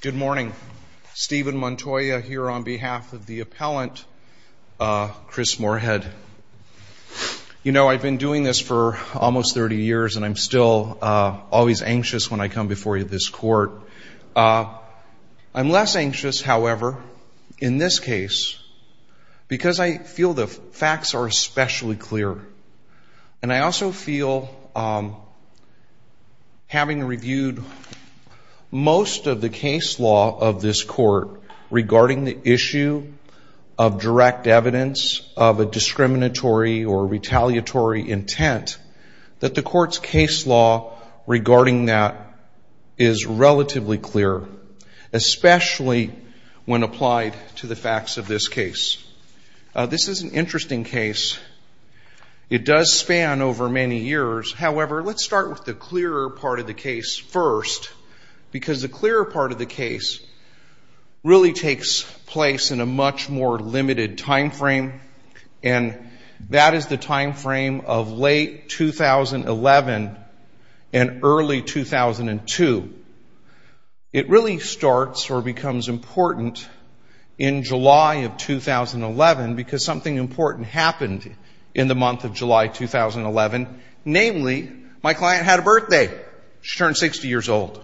Good morning. Stephen Montoya here on behalf of the appellant, Chris Moorhead. You know, I've been doing this for almost 30 years, and I'm still always anxious when I come before this court. I'm less anxious, however, in this case, because I feel the facts are especially clear. And I also feel, having reviewed most of the case law of this court regarding the issue of direct evidence of a discriminatory or retaliatory intent, that the court's case law regarding that is relatively clear, especially when applied to the facts of this case. This is an interesting case. It does span over many years. However, let's start with the clearer part of the case first, because the clearer part of the case really takes place in a much more limited timeframe, and that is the timeframe of late 2011 and early 2002. It really starts or becomes important in July of 2011, because something important happened in the month of July 2011, namely, my client had a birthday. She turned 60 years old.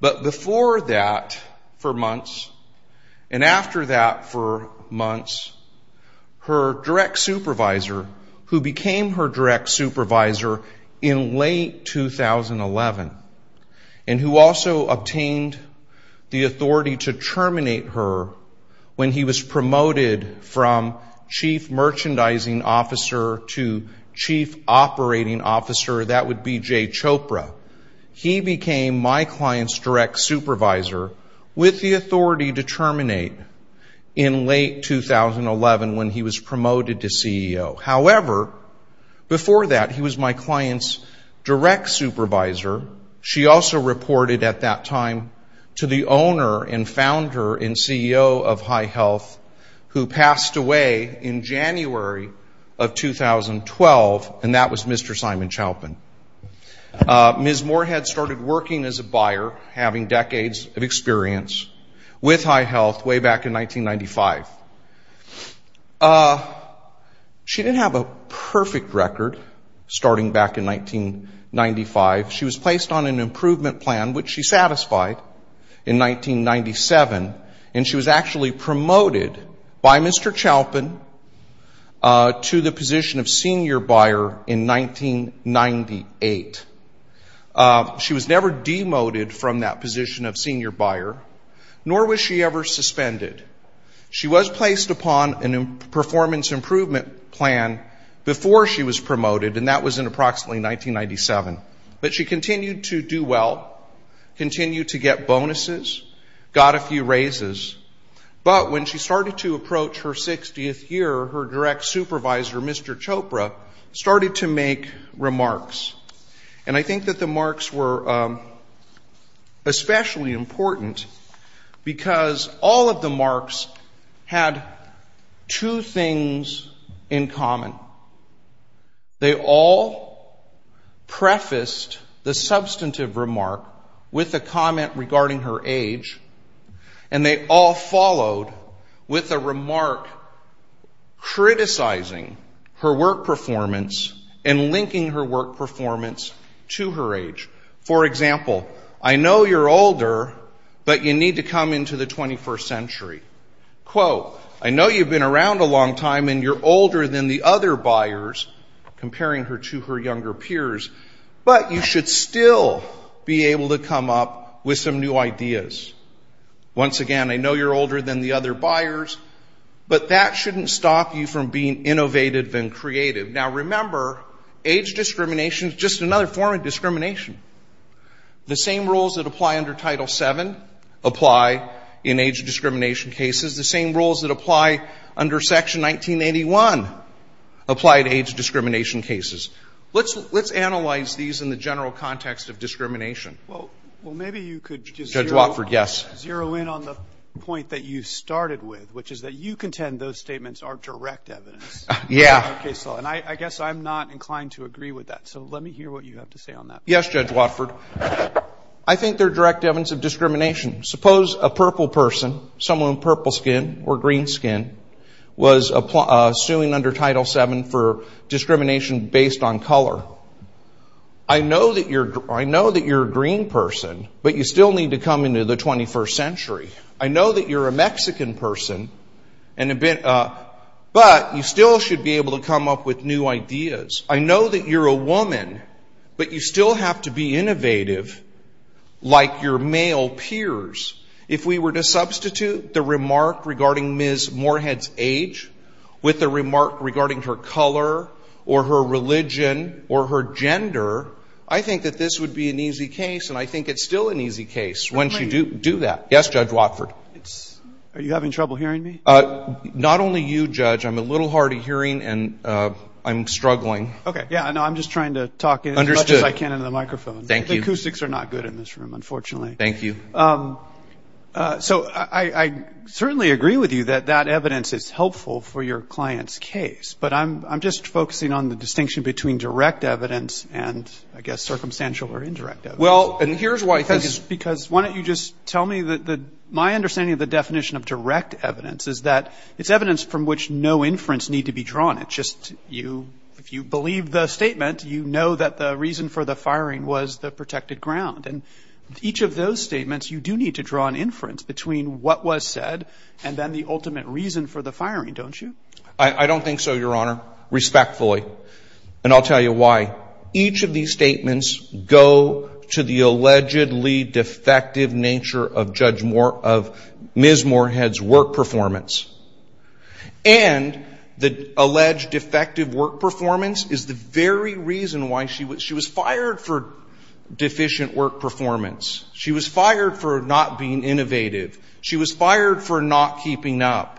But before that, for months, and after that for months, her direct supervisor, who became her direct supervisor in late 2011, and who also obtained the authority to terminate her when he was promoted from chief merchandising officer to chief operating officer, that would be Jay Chopra, he became my client's direct supervisor with the authority to terminate in late 2011 when he was promoted to CEO. However, before that, he was my client's direct supervisor. She also reported at that time to the owner and founder and CEO of High Health, who passed away in January of 2012, and that was Mr. Simon Chalpin. Ms. Moorhead started working as a buyer, having decades of experience with High Health way back in 1995. She didn't have a perfect record starting back in 1995. She was placed on an improvement plan, which she satisfied in 1997, and she was actually promoted by Mr. Chalpin to the position of senior buyer in 1998. She was never demoted from that position of senior buyer, nor was she ever suspended. She was placed upon a performance improvement plan before she was promoted, and that was in approximately 1997. But she continued to do well, continued to get bonuses, got a few raises. But when she started to approach her 60th year, her direct supervisor, Mr. Chopra, started to make remarks. And I think that the marks were especially important because all of the marks had two things in common. They all prefaced the substantive remark with a comment regarding her age, and they all followed with a remark criticizing her work performance and linking her work performance to her age. For example, I know you're older, but you need to come into the 21st century. Quote, I know you've been around a long time and you're older than the other buyers, comparing her to her younger peers, but you should still be able to come up with some new ideas. Once again, I know you're older than the other buyers, but that shouldn't stop you from being innovative and creative. Now, remember, age discrimination is just another form of discrimination. The same rules that apply under Title VII apply in age discrimination cases. The same rules that apply under Section 1981 apply to age discrimination cases. Let's analyze these in the general context of discrimination. Well, maybe you could just zero in on the point that you started with, which is that you contend those statements are direct evidence. Yeah. And I guess I'm not inclined to agree with that, so let me hear what you have to say on that. Yes, Judge Watford. I think they're direct evidence of discrimination. Suppose a purple person, someone with purple skin or green skin, was suing under Title VII for discrimination based on color. I know that you're a green person, but you still need to come into the 21st century. I know that you're a Mexican person, but you still should be able to come up with new ideas. I know that you're a woman, but you still have to be innovative like your male peers. If we were to substitute the remark regarding Ms. Moorhead's age with a remark regarding her color or her religion or her gender, I think that this would be an easy case, and I think it's still an easy case once you do that. Yes, Judge Watford. Are you having trouble hearing me? Not only you, Judge. I'm a little hard of hearing, and I'm struggling. Okay. Yeah, no, I'm just trying to talk as much as I can into the microphone. Thank you. The acoustics are not good in this room, unfortunately. Thank you. So I certainly agree with you that that evidence is helpful for your client's case, but I'm just focusing on the distinction between direct evidence and, I guess, circumstantial or indirect evidence. Well, and here's why. Because why don't you just tell me that my understanding of the definition of direct evidence is that it's evidence from which no inference need to be drawn. It's just you, if you believe the statement, you know that the reason for the firing was the protected ground. And each of those statements, you do need to draw an inference between what was said and then the ultimate reason for the firing, don't you? I don't think so, Your Honor, respectfully. And I'll tell you why. Each of these statements go to the allegedly defective nature of Ms. Moorhead's work performance. And the alleged defective work performance is the very reason why she was fired for deficient work performance. She was fired for not being innovative. She was fired for not keeping up.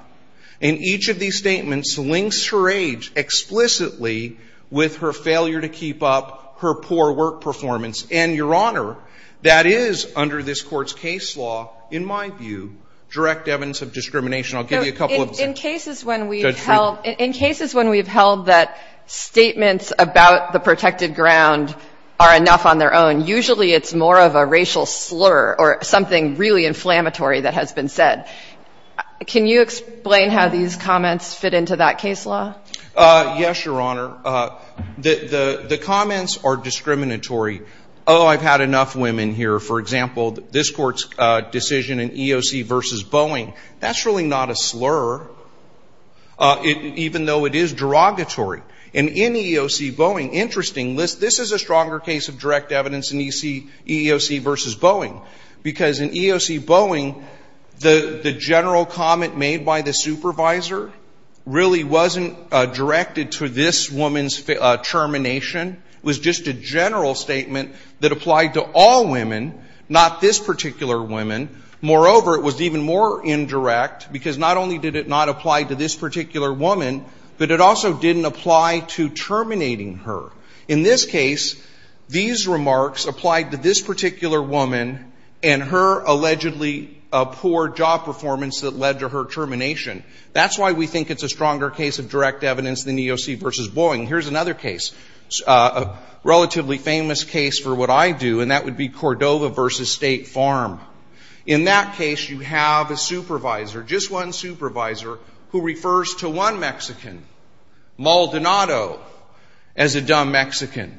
And each of these statements links her age explicitly with her failure to keep up her poor work performance. And, Your Honor, that is under this Court's case law, in my view, direct evidence of discrimination. I'll give you a couple of examples. In cases when we've held that statements about the protected ground are enough on their own, usually it's more of a racial slur or something really inflammatory that has been said. Can you explain how these comments fit into that case law? Yes, Your Honor. The comments are discriminatory. Oh, I've had enough women here. For example, this Court's decision in EEOC v. Boeing, that's really not a slur, even though it is derogatory. And in EEOC Boeing, interesting, this is a stronger case of direct evidence in EEOC v. Boeing because in EEOC Boeing, the general comment made by the supervisor really wasn't directed to this woman's termination. It was just a general statement that applied to all women, not this particular woman. Moreover, it was even more indirect because not only did it not apply to this particular woman, but it also didn't apply to terminating her. In this case, these remarks applied to this particular woman and her allegedly poor job performance that led to her termination. That's why we think it's a stronger case of direct evidence than EEOC v. Boeing. Here's another case, a relatively famous case for what I do, and that would be Cordova v. State Farm. In that case, you have a supervisor, just one supervisor, who refers to one Mexican, Maldonado, as a dumb Mexican.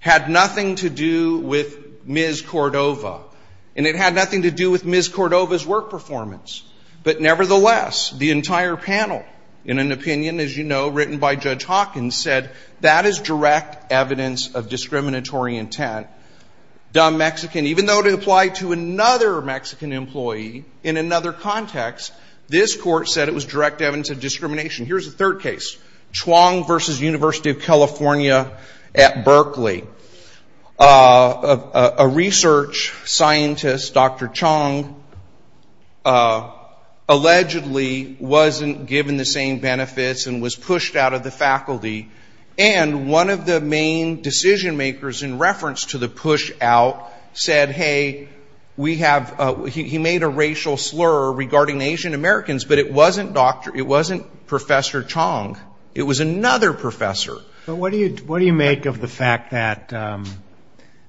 Had nothing to do with Ms. Cordova. And it had nothing to do with Ms. Cordova's work performance. But nevertheless, the entire panel, in an opinion, as you know, written by Judge Hawkins, said that is direct evidence of discriminatory intent. Dumb Mexican, even though it applied to another Mexican employee in another context, this Court said it was direct evidence of discrimination. Here's a third case, Chuang v. University of California at Berkeley. A research scientist, Dr. Chuang, allegedly wasn't given the same benefits and was pushed out of the faculty. And one of the main decision-makers in reference to the push-out said, hey, we have he made a racial slur regarding Asian Americans, but it wasn't Dr. It wasn't Professor Chuang. It was another professor. But what do you make of the fact that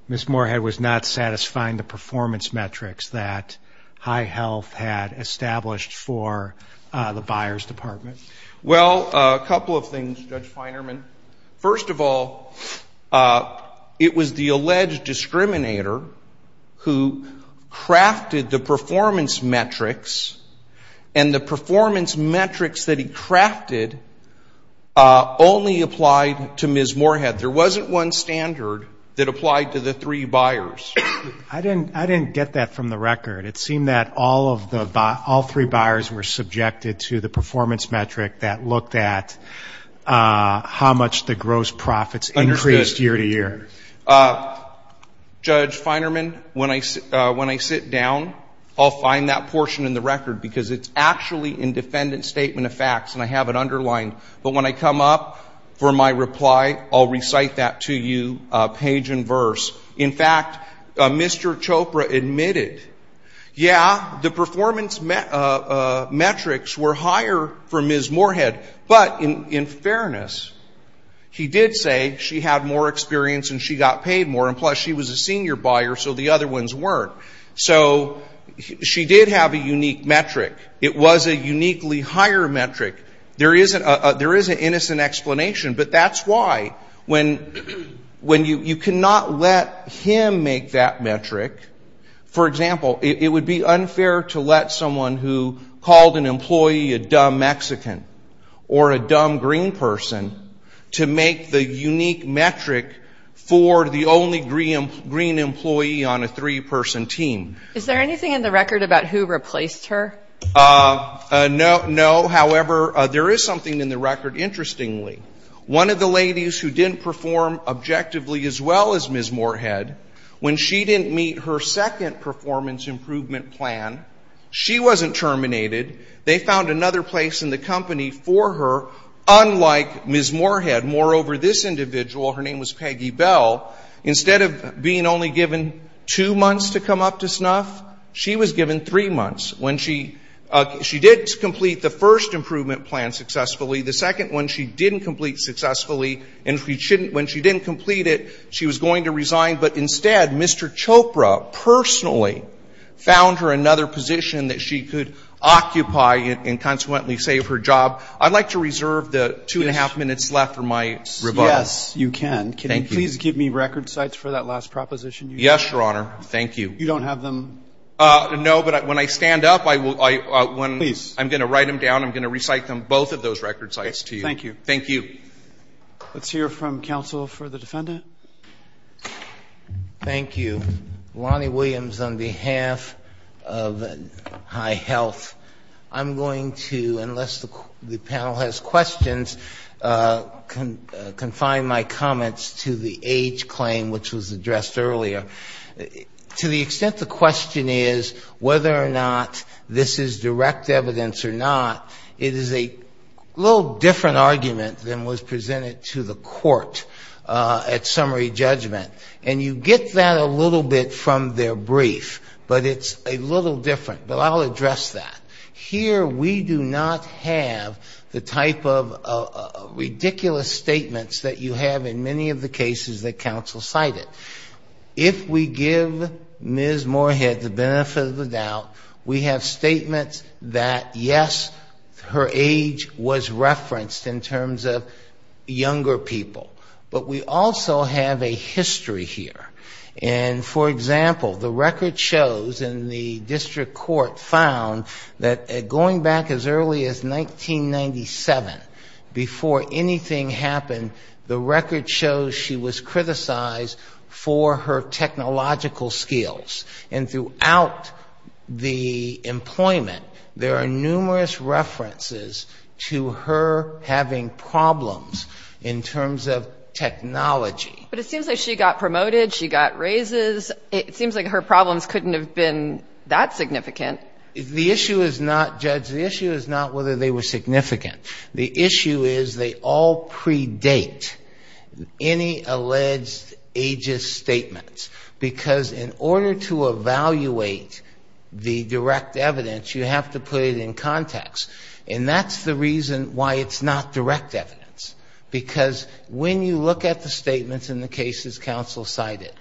Ms. Moorhead was not satisfying the performance metrics that high health had established for the buyer's department? Well, a couple of things, Judge Feinerman. First of all, it was the alleged discriminator who crafted the performance metrics, and the performance metrics that he crafted only applied to Ms. Moorhead. There wasn't one standard that applied to the three buyers. I didn't get that from the record. It seemed that all three buyers were subjected to the performance metric that looked at how much the gross profits increased year to year. Judge Feinerman, when I sit down, I'll find that portion in the record because it's actually in defendant's statement of facts, and I have it underlined. But when I come up for my reply, I'll recite that to you page and verse. In fact, Mr. Chopra admitted, yeah, the performance metrics were higher for Ms. Moorhead, but in fairness, he did say she had more experience and she got paid more, and plus she was a senior buyer, so the other ones weren't. So she did have a unique metric. It was a uniquely higher metric. There is an innocent explanation, but that's why when you cannot let him make that metric, for example, it would be unfair to let someone who called an employee a dumb Mexican or a dumb green person to make the unique metric for the only green employee on a three-person team. Is there anything in the record about who replaced her? No. However, there is something in the record, interestingly. One of the ladies who didn't perform objectively as well as Ms. Moorhead, when she didn't meet her second performance improvement plan, she wasn't terminated. They found another place in the company for her, unlike Ms. Moorhead. Moreover, this individual, her name was Peggy Bell, instead of being only given two months to come up to snuff, she was given three months. When she did complete the first improvement plan successfully, the second one she didn't complete successfully, and when she didn't complete it, she was going to resign. But instead, Mr. Chopra personally found her another position that she could occupy and consequently save her job. I'd like to reserve the two and a half minutes left for my rebuttal. Yes, you can. Can you please give me record sites for that last proposition you made? Yes, Your Honor. Thank you. You don't have them? No, but when I stand up, I'm going to write them down. I'm going to recite them, both of those record sites, to you. Thank you. Thank you. Let's hear from counsel for the defendant. Thank you. Lonnie Williams on behalf of High Health. I'm going to, unless the panel has questions, confine my comments to the age claim, which was addressed earlier. To the extent the question is whether or not this is direct evidence or not, it is a little different argument than was presented to the court at summary judgment. And you get that a little bit from their brief, but it's a little different. But I'll address that. Here we do not have the type of ridiculous statements that you have in many of the cases that counsel cited. If we give Ms. Moorhead the benefit of the doubt, we have statements that, yes, her age was referenced in terms of younger people. But we also have a history here. And, for example, the record shows, and the district court found, that going back as early as 1997, before anything happened, the record shows she was criticized for her technological skills. And throughout the employment, there are numerous references to her having problems in terms of technology. But it seems like she got promoted. She got raises. It seems like her problems couldn't have been that significant. The issue is not, Judge, the issue is not whether they were significant. The issue is they all predate any alleged ageist statements, because in order to evaluate the direct evidence, you have to put it in context. And that's the reason why it's not direct evidence, because when you look at the statements in the cases counsel cited,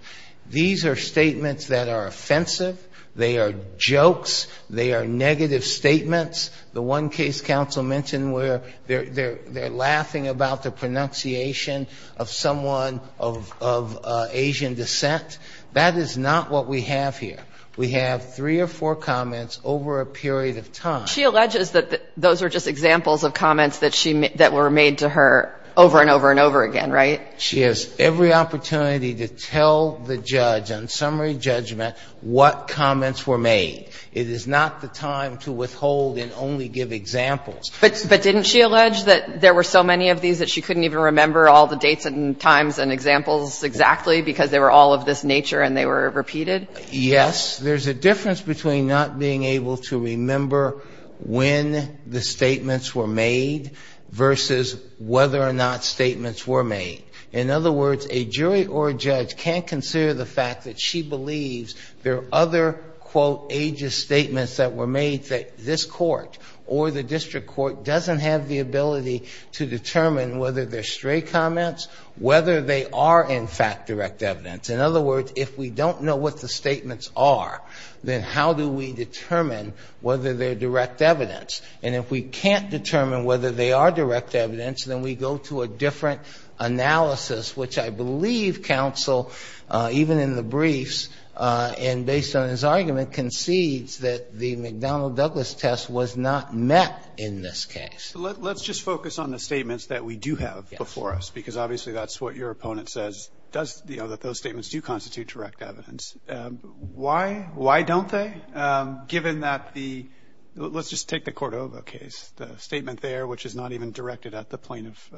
these are statements that are offensive. They are jokes. They are negative statements. The one case counsel mentioned where they're laughing about the pronunciation of someone of Asian descent. That is not what we have here. We have three or four comments over a period of time. She alleges that those are just examples of comments that were made to her over and over and over again, right? She has every opportunity to tell the judge on summary judgment what comments were made. It is not the time to withhold and only give examples. But didn't she allege that there were so many of these that she couldn't even remember all the dates and times and examples exactly because they were all of this nature and they were repeated? Yes. There's a difference between not being able to remember when the statements were made versus whether or not statements were made. In other words, a jury or a judge can't consider the fact that she believes there are other, quote, ageist statements that were made that this court or the district court doesn't have the ability to determine whether they're stray comments, whether they are, in fact, direct evidence. In other words, if we don't know what the statements are, then how do we determine whether they're direct evidence? And if we can't determine whether they are direct evidence, then we go to a different analysis, which I believe counsel, even in the briefs and based on his argument, concedes that the McDonnell-Douglas test was not met in this case. Let's just focus on the statements that we do have before us because, obviously, that's what your opponent says, that those statements do constitute direct evidence. Why don't they, given that the let's just take the Cordova case, the statement there which is not even directed at the plaintiff?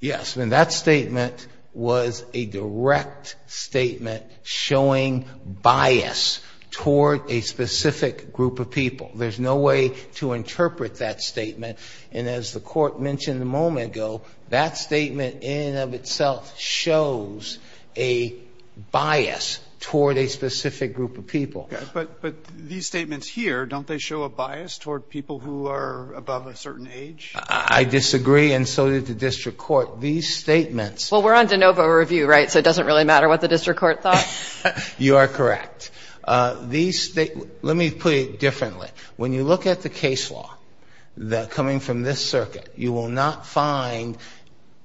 Yes. And that statement was a direct statement showing bias toward a specific group of people. There's no way to interpret that statement. And as the court mentioned a moment ago, that statement in and of itself shows a bias toward a specific group of people. But these statements here, don't they show a bias toward people who are above a certain age? I disagree, and so did the district court. These statements. Well, we're on de novo review, right? So it doesn't really matter what the district court thought? You are correct. Let me put it differently. When you look at the case law coming from this circuit, you will not find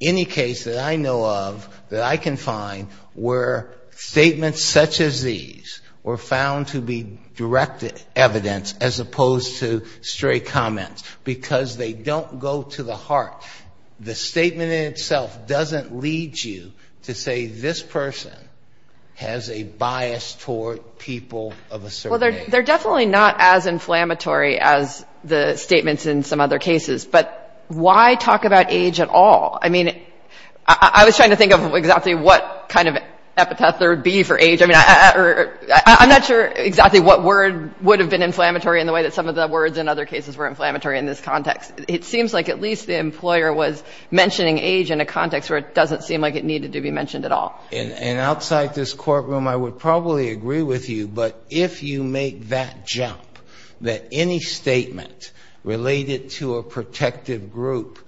any case that I know of that I can find where statements such as these were found to be direct evidence as opposed to stray comments because they don't go to the heart. The statement in itself doesn't lead you to say this person has a bias toward people of a certain age. Well, they're definitely not as inflammatory as the statements in some other cases. But why talk about age at all? I mean, I was trying to think of exactly what kind of epitaph there would be for age. I mean, I'm not sure exactly what word would have been inflammatory in the way that some of the words in other cases were inflammatory in this context. It seems like at least the employer was mentioning age in a context where it doesn't seem like it needed to be mentioned at all. And outside this courtroom, I would probably agree with you. But if you make that jump that any statement related to a protective group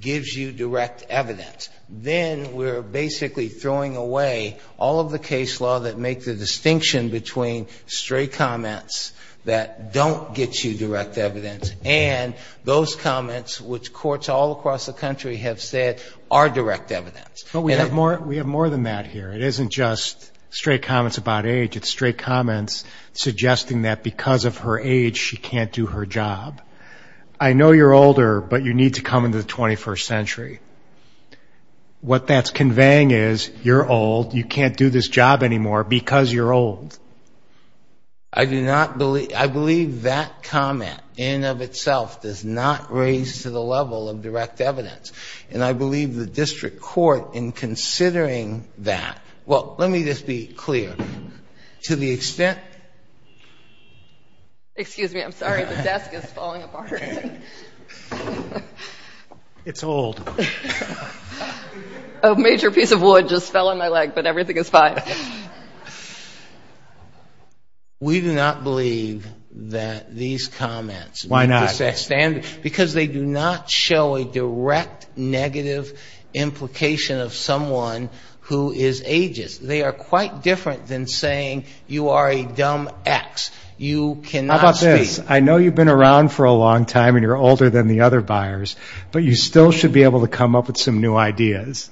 gives you direct evidence, then we're basically throwing away all of the case law that make the distinction between stray comments that don't get you direct evidence and those comments which courts all across the country have said are direct evidence. But we have more than that here. It isn't just stray comments about age. It's stray comments suggesting that because of her age, she can't do her job. I know you're older, but you need to come into the 21st century. What that's conveying is you're old, you can't do this job anymore because you're old. I do not believe – I believe that comment in and of itself does not raise to the level of direct evidence. And I believe the district court in considering that – well, let me just be clear. To the extent – Excuse me. I'm sorry. The desk is falling apart. It's old. A major piece of wood just fell on my leg, but everything is fine. We do not believe that these comments – Why not? Because they do not show a direct negative implication of someone who is ageist. They are quite different than saying you are a dumb ex. You cannot speak. How about this? I know you've been around for a long time and you're older than the other buyers, but you still should be able to come up with some new ideas.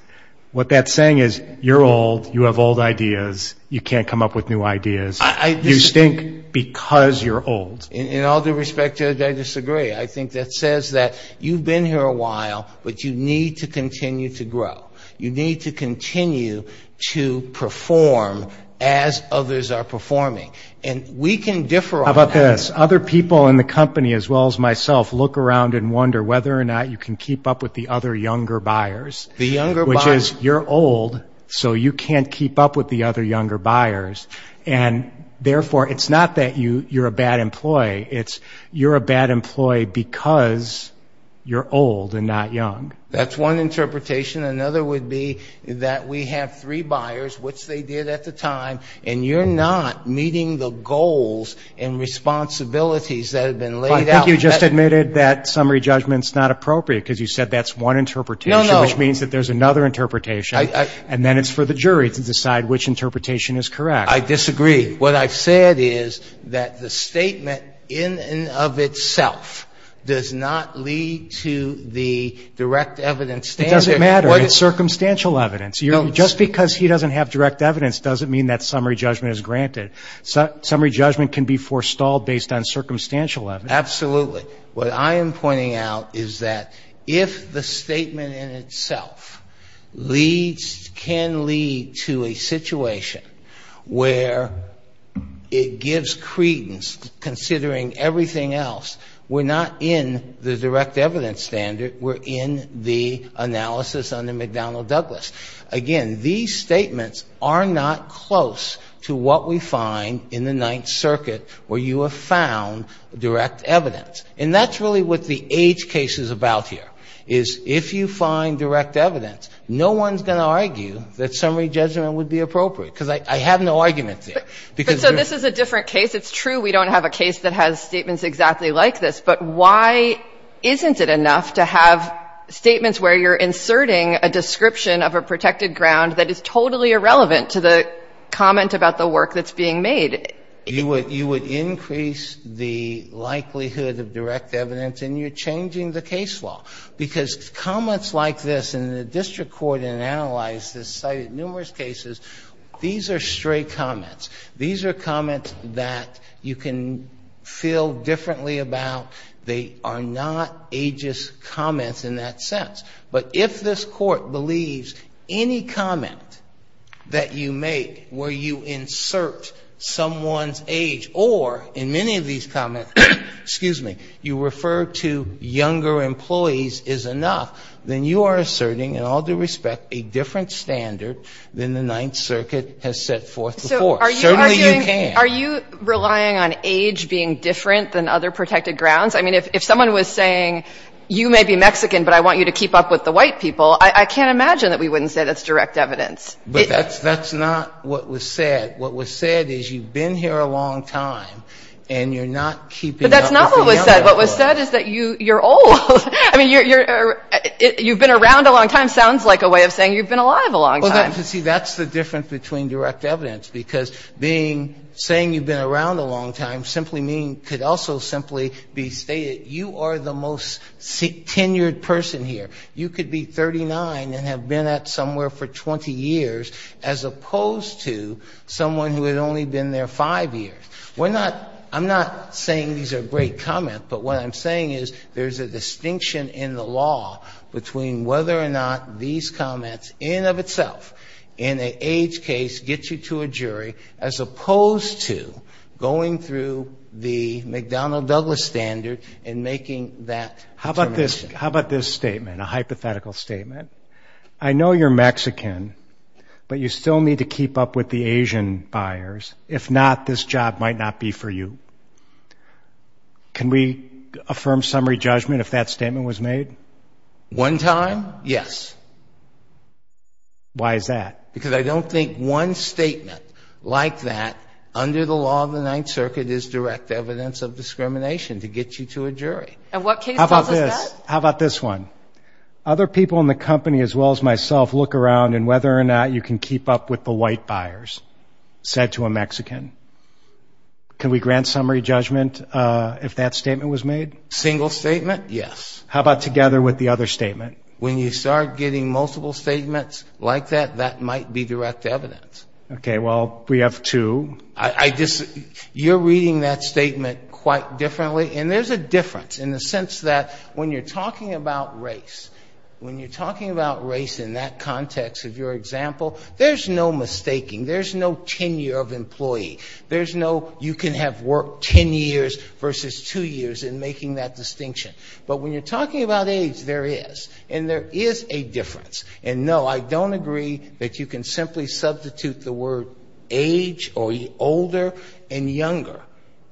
What that's saying is you're old, you have old ideas, you can't come up with new ideas. You stink because you're old. In all due respect to that, I disagree. I think that says that you've been here a while, but you need to continue to grow. You need to continue to perform as others are performing. And we can differ on that. How about this? Other people in the company, as well as myself, look around and wonder whether or not you can keep up with the other younger buyers. The younger buyers. Which is you're old, so you can't keep up with the other younger buyers. And, therefore, it's not that you're a bad employee. It's you're a bad employee because you're old and not young. That's one interpretation. Another would be that we have three buyers, which they did at the time, and you're not meeting the goals and responsibilities that have been laid out. I think you just admitted that summary judgment is not appropriate because you said that's one interpretation. No, no. Which means that there's another interpretation, and then it's for the jury to decide which interpretation is correct. I disagree. What I've said is that the statement in and of itself does not lead to the direct evidence standard. It doesn't matter. It's circumstantial evidence. Just because he doesn't have direct evidence doesn't mean that summary judgment is granted. Summary judgment can be forestalled based on circumstantial evidence. Absolutely. What I am pointing out is that if the statement in itself leads, can lead to a situation where it gives credence considering everything else, we're not in the direct evidence standard. We're in the analysis under McDonnell Douglas. Again, these statements are not close to what we find in the Ninth Circuit where you have found direct evidence. And that's really what the age case is about here, is if you find direct evidence, no one's going to argue that summary judgment would be appropriate, because I have no argument there. But so this is a different case. It's true we don't have a case that has statements exactly like this, but why isn't it enough to have statements where you're inserting a description of a protected ground that is totally irrelevant to the comment about the work that's being made? You would increase the likelihood of direct evidence, and you're changing the case law, because comments like this in the district court in an analysis cited numerous cases, these are stray comments. These are comments that you can feel differently about. They are not ageist comments in that sense. But if this Court believes any comment that you make where you insert someone's age, or in many of these comments, excuse me, you refer to younger employees is enough, then you are asserting, in all due respect, a different standard than the Ninth Circuit has set forth before. Certainly you can. So are you arguing, are you relying on age being different than other protected grounds? I mean, if someone was saying, you may be Mexican, but I want you to keep up with the white people, I can't imagine that we wouldn't say that's direct evidence. But that's not what was said. What was said is you've been here a long time, and you're not keeping up with the younger employees. But that's not what was said. What was said is that you're old. I mean, you've been around a long time sounds like a way of saying you've been alive a long time. Well, see, that's the difference between direct evidence, because saying you've been around a long time simply means, could also simply be stated, you are the most tenured person here. You could be 39 and have been at somewhere for 20 years, as opposed to someone who had only been there five years. We're not, I'm not saying these are great comments, but what I'm saying is there's a distinction in the law between whether or not these comments, in and of itself, in an age case, get you to a jury, as opposed to going through the McDonnell Douglas standard and making that determination. How about this statement, a hypothetical statement? I know you're Mexican, but you still need to keep up with the Asian buyers. If not, this job might not be for you. Can we affirm summary judgment if that statement was made? One time, yes. Why is that? Because I don't think one statement like that, under the law of the Ninth Circuit, is direct evidence of discrimination to get you to a jury. How about this? How about this one? Other people in the company, as well as myself, look around and whether or not you can keep up with the white buyers, said to a Mexican. Can we grant summary judgment if that statement was made? Single statement, yes. How about together with the other statement? When you start getting multiple statements like that, that might be direct evidence. Okay. Well, we have two. You're reading that statement quite differently, and there's a difference in the sense that when you're talking about race, when you're talking about race in that context of your example, there's no mistaking. There's no tenure of employee. There's no you can have worked 10 years versus 2 years in making that distinction. But when you're talking about age, there is. And there is a difference. And, no, I don't agree that you can simply substitute the word age or older and younger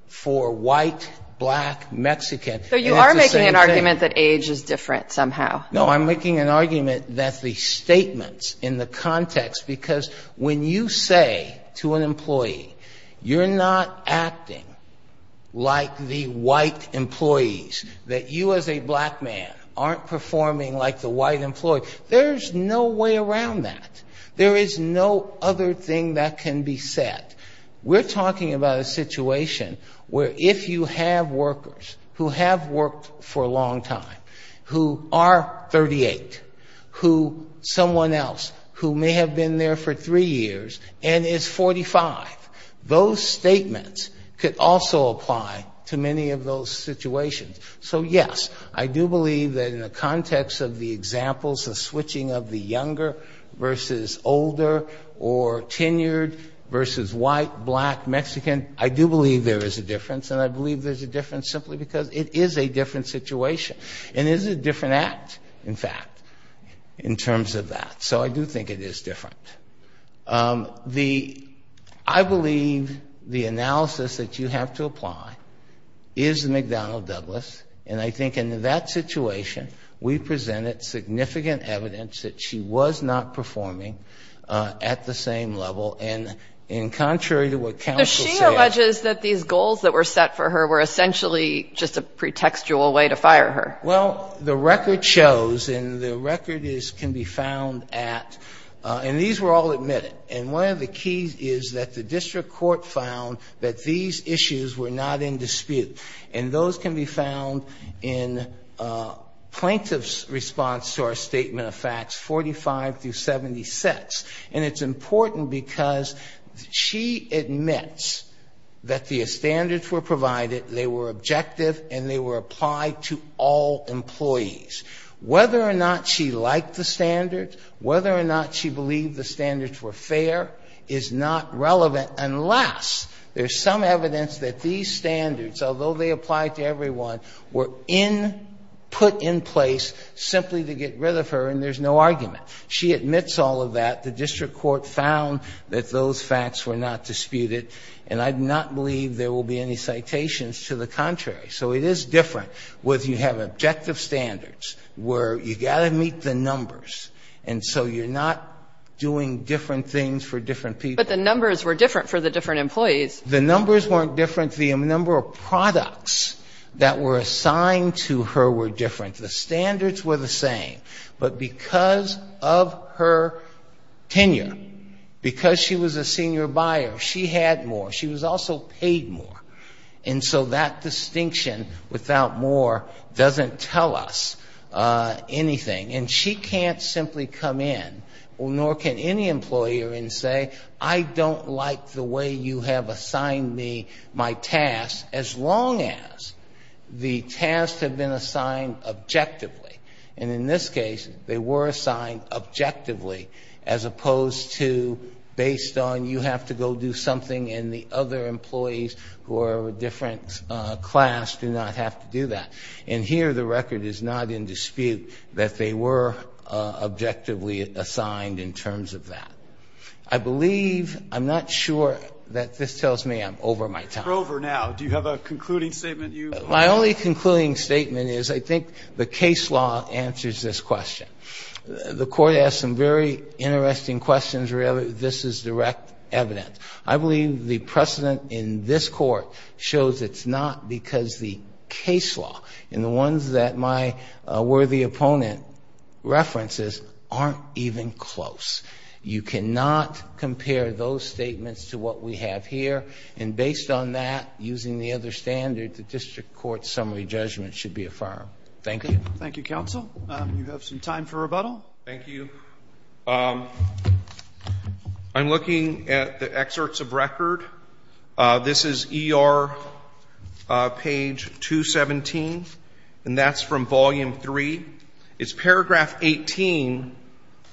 for white, black, Mexican. And it's the same thing. So you are making an argument that age is different somehow. No, I'm making an argument that the statements in the context, because when you say to an employee, you're not acting like the white employees, that you as a black man aren't performing like the white employee, there's no way around that. There is no other thing that can be said. We're talking about a situation where if you have workers who have worked for a long time, who are 38, who someone else who may have been there for 3 years and is 45, those statements could also apply to many of those situations. So, yes, I do believe that in the context of the examples of switching of the younger versus older or tenured versus white, black, Mexican, I do believe there is a difference. And I believe there's a difference simply because it is a different situation. And it is a different act, in fact, in terms of that. So I do think it is different. I believe the analysis that you have to apply is McDonnell-Douglas. And I think in that situation we presented significant evidence that she was not performing at the same level. And contrary to what counsel said. But she alleges that these goals that were set for her were essentially just a pretextual way to fire her. Well, the record shows, and the record can be found at, and these were all admitted. And one of the keys is that the district court found that these issues were not in dispute. And those can be found in plaintiff's response to our statement of facts, 45 through 76. And it's important because she admits that the standards were provided, they were objective, and they were applied to all employees. Whether or not she liked the standards, whether or not she believed the standards were fair, is not relevant. Unless there's some evidence that these standards, although they apply to everyone, were put in place simply to get rid of her and there's no argument. She admits all of that. The district court found that those facts were not disputed. And I do not believe there will be any citations to the contrary. So it is different whether you have objective standards where you've got to meet the numbers. And so you're not doing different things for different people. But the numbers were different for the different employees. The numbers weren't different. The number of products that were assigned to her were different. The standards were the same. But because of her tenure, because she was a senior buyer, she had more. She was also paid more. And so that distinction without more doesn't tell us anything. And she can't simply come in, nor can any employer, and say, I don't like the way you have assigned me my tasks as long as the tasks have been assigned objectively. And in this case, they were assigned objectively as opposed to based on you have to go do something and the other employees who are of a different class do not have to do that. And here the record is not in dispute that they were objectively assigned in terms of that. I believe ‑‑ I'm not sure that this tells me I'm over my time. MR. KOLBERG. You're over now. Do you have a concluding statement you want to make? The concluding statement is I think the case law answers this question. The Court asked some very interesting questions where this is direct evidence. I believe the precedent in this Court shows it's not because the case law and the ones that my worthy opponent references aren't even close. You cannot compare those statements to what we have here. And based on that, using the other standard, the district court summary judgment should be affirmed. Thank you. Thank you, counsel. You have some time for rebuttal. Thank you. I'm looking at the excerpts of record. This is ER page 217, and that's from volume three. It's paragraph 18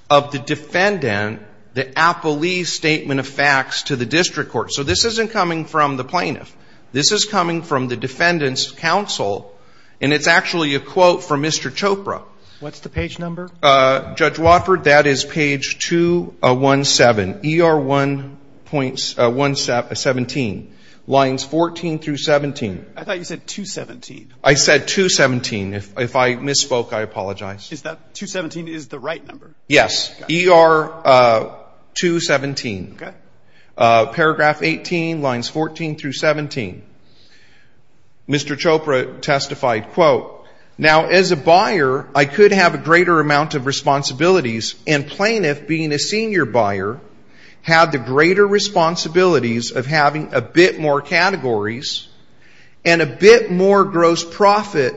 of the defendant, the appellee's statement of facts to the district court. So this isn't coming from the plaintiff. This is coming from the defendant's counsel, and it's actually a quote from Mr. Chopra. What's the page number? Judge Wofford, that is page 217, ER 1.17, lines 14 through 17. I thought you said 217. I said 217. If I misspoke, I apologize. Is that 217 is the right number? Yes, ER 217. Okay. Paragraph 18, lines 14 through 17. Mr. Chopra testified, quote, Now, as a buyer, I could have a greater amount of responsibilities, and plaintiff, being a senior buyer, had the greater responsibilities of having a bit more categories and a bit more gross profit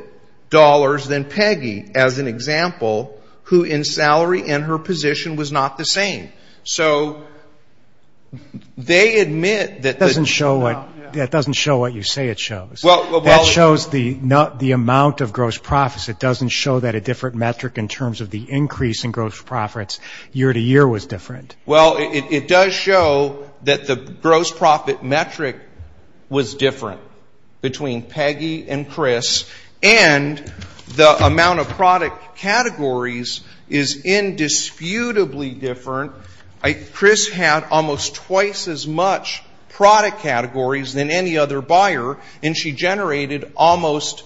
dollars than Peggy, as an example, who in salary and her position was not the same. So they admit that the ---- That doesn't show what you say it shows. That shows the amount of gross profits. It doesn't show that a different metric in terms of the increase in gross profits year to year was different. Well, it does show that the gross profit metric was different between Peggy and Chris, and the amount of product categories is indisputably different. Chris had almost twice as much product categories than any other buyer, and she generated almost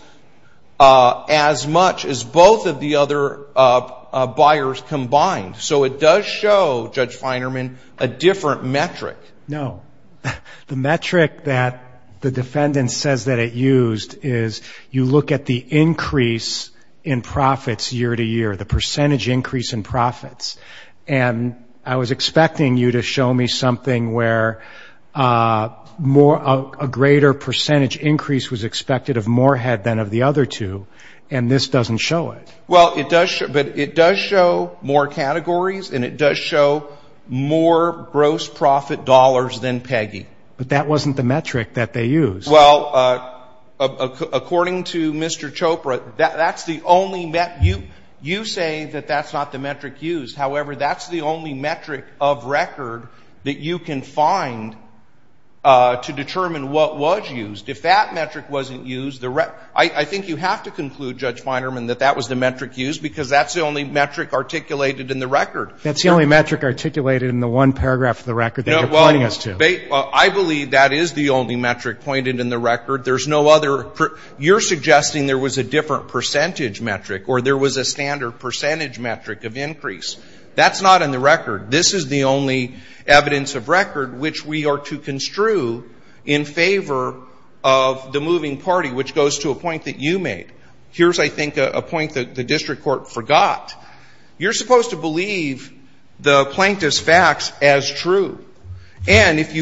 as much as both of the other buyers combined. So it does show, Judge Feinerman, a different metric. No. The metric that the defendant says that it used is you look at the increase in profits year to year, the percentage increase in profits, and I was expecting you to show me something where a greater percentage increase was expected of Morehead than of the other two, and this doesn't show it. Well, it does show more categories, and it does show more gross profit dollars than Peggy. But that wasn't the metric that they used. Well, according to Mr. Chopra, that's the only metric. You say that that's not the metric used. However, that's the only metric of record that you can find to determine what was used. If that metric wasn't used, I think you have to conclude, Judge Feinerman, that that was the metric used because that's the only metric articulated in the record. That's the only metric articulated in the one paragraph of the record that you're pointing us to. Well, I believe that is the only metric pointed in the record. There's no other. You're suggesting there was a different percentage metric or there was a standard percentage metric of increase. That's not in the record. This is the only evidence of record which we are to construe in favor of the moving party, which goes to a point that you made. Here's, I think, a point that the district court forgot. You're supposed to believe the plaintiff's facts as true. And if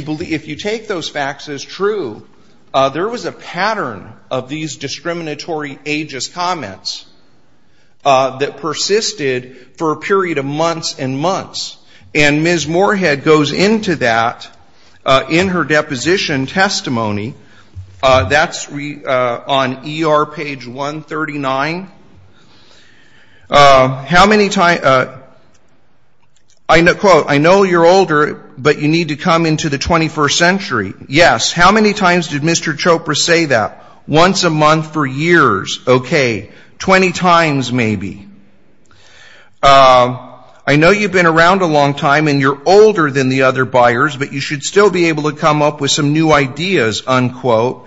you take those facts as true, there was a pattern of these discriminatory ageist comments that persisted for a period of months and months. And Ms. Moorhead goes into that in her deposition testimony. That's on ER page 139. How many times, quote, I know you're older, but you need to come into the 21st century. Yes. How many times did Mr. Chopra say that? Once a month for years. Okay. Twenty times maybe. I know you've been around a long time and you're older than the other buyers, but you should still be able to come up with some new ideas, unquote.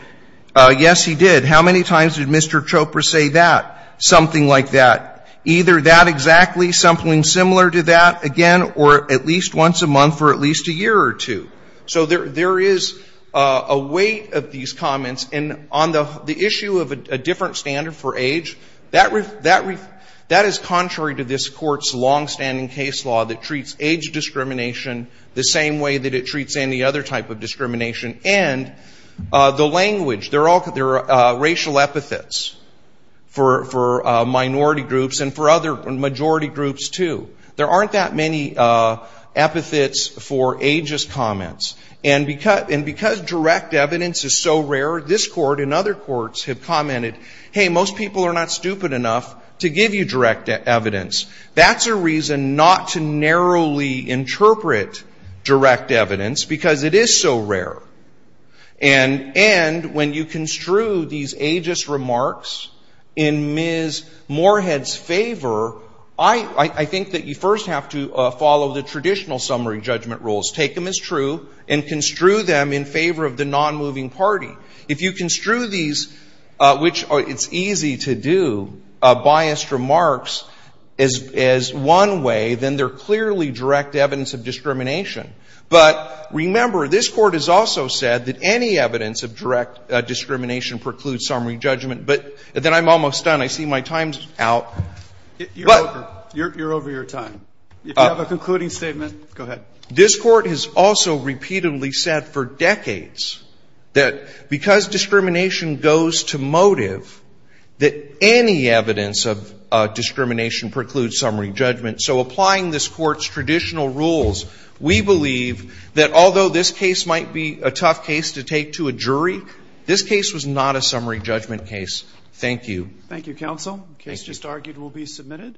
Yes, he did. How many times did Mr. Chopra say that? Something like that. Either that exactly, something similar to that, again, or at least once a month or at least a year or two. So there is a weight of these comments. And on the issue of a different standard for age, that is contrary to this Court's longstanding case law that treats age discrimination the same way that it treats any other type of discrimination. And the language, there are racial epithets for minority groups and for other majority groups, too. There aren't that many epithets for ageist comments. And because direct evidence is so rare, this Court and other courts have commented, hey, most people are not stupid enough to give you direct evidence. That's a reason not to narrowly interpret direct evidence because it is so rare. And when you construe these ageist remarks in Ms. Moorhead's favor, I think that you first have to follow the traditional summary judgment rules. Take them as true and construe them in favor of the nonmoving party. If you construe these, which it's easy to do, biased remarks as one way, then they're clearly direct evidence of discrimination. But remember, this Court has also said that any evidence of direct discrimination precludes summary judgment. But then I'm almost done. I see my time's out. But you're over your time. If you have a concluding statement, go ahead. This Court has also repeatedly said for decades that because discrimination goes to motive, that any evidence of discrimination precludes summary judgment. So applying this Court's traditional rules, we believe that although this case might be a tough case to take to a jury, this case was not a summary judgment case. Thank you. Thank you, counsel. The case just argued will be submitted.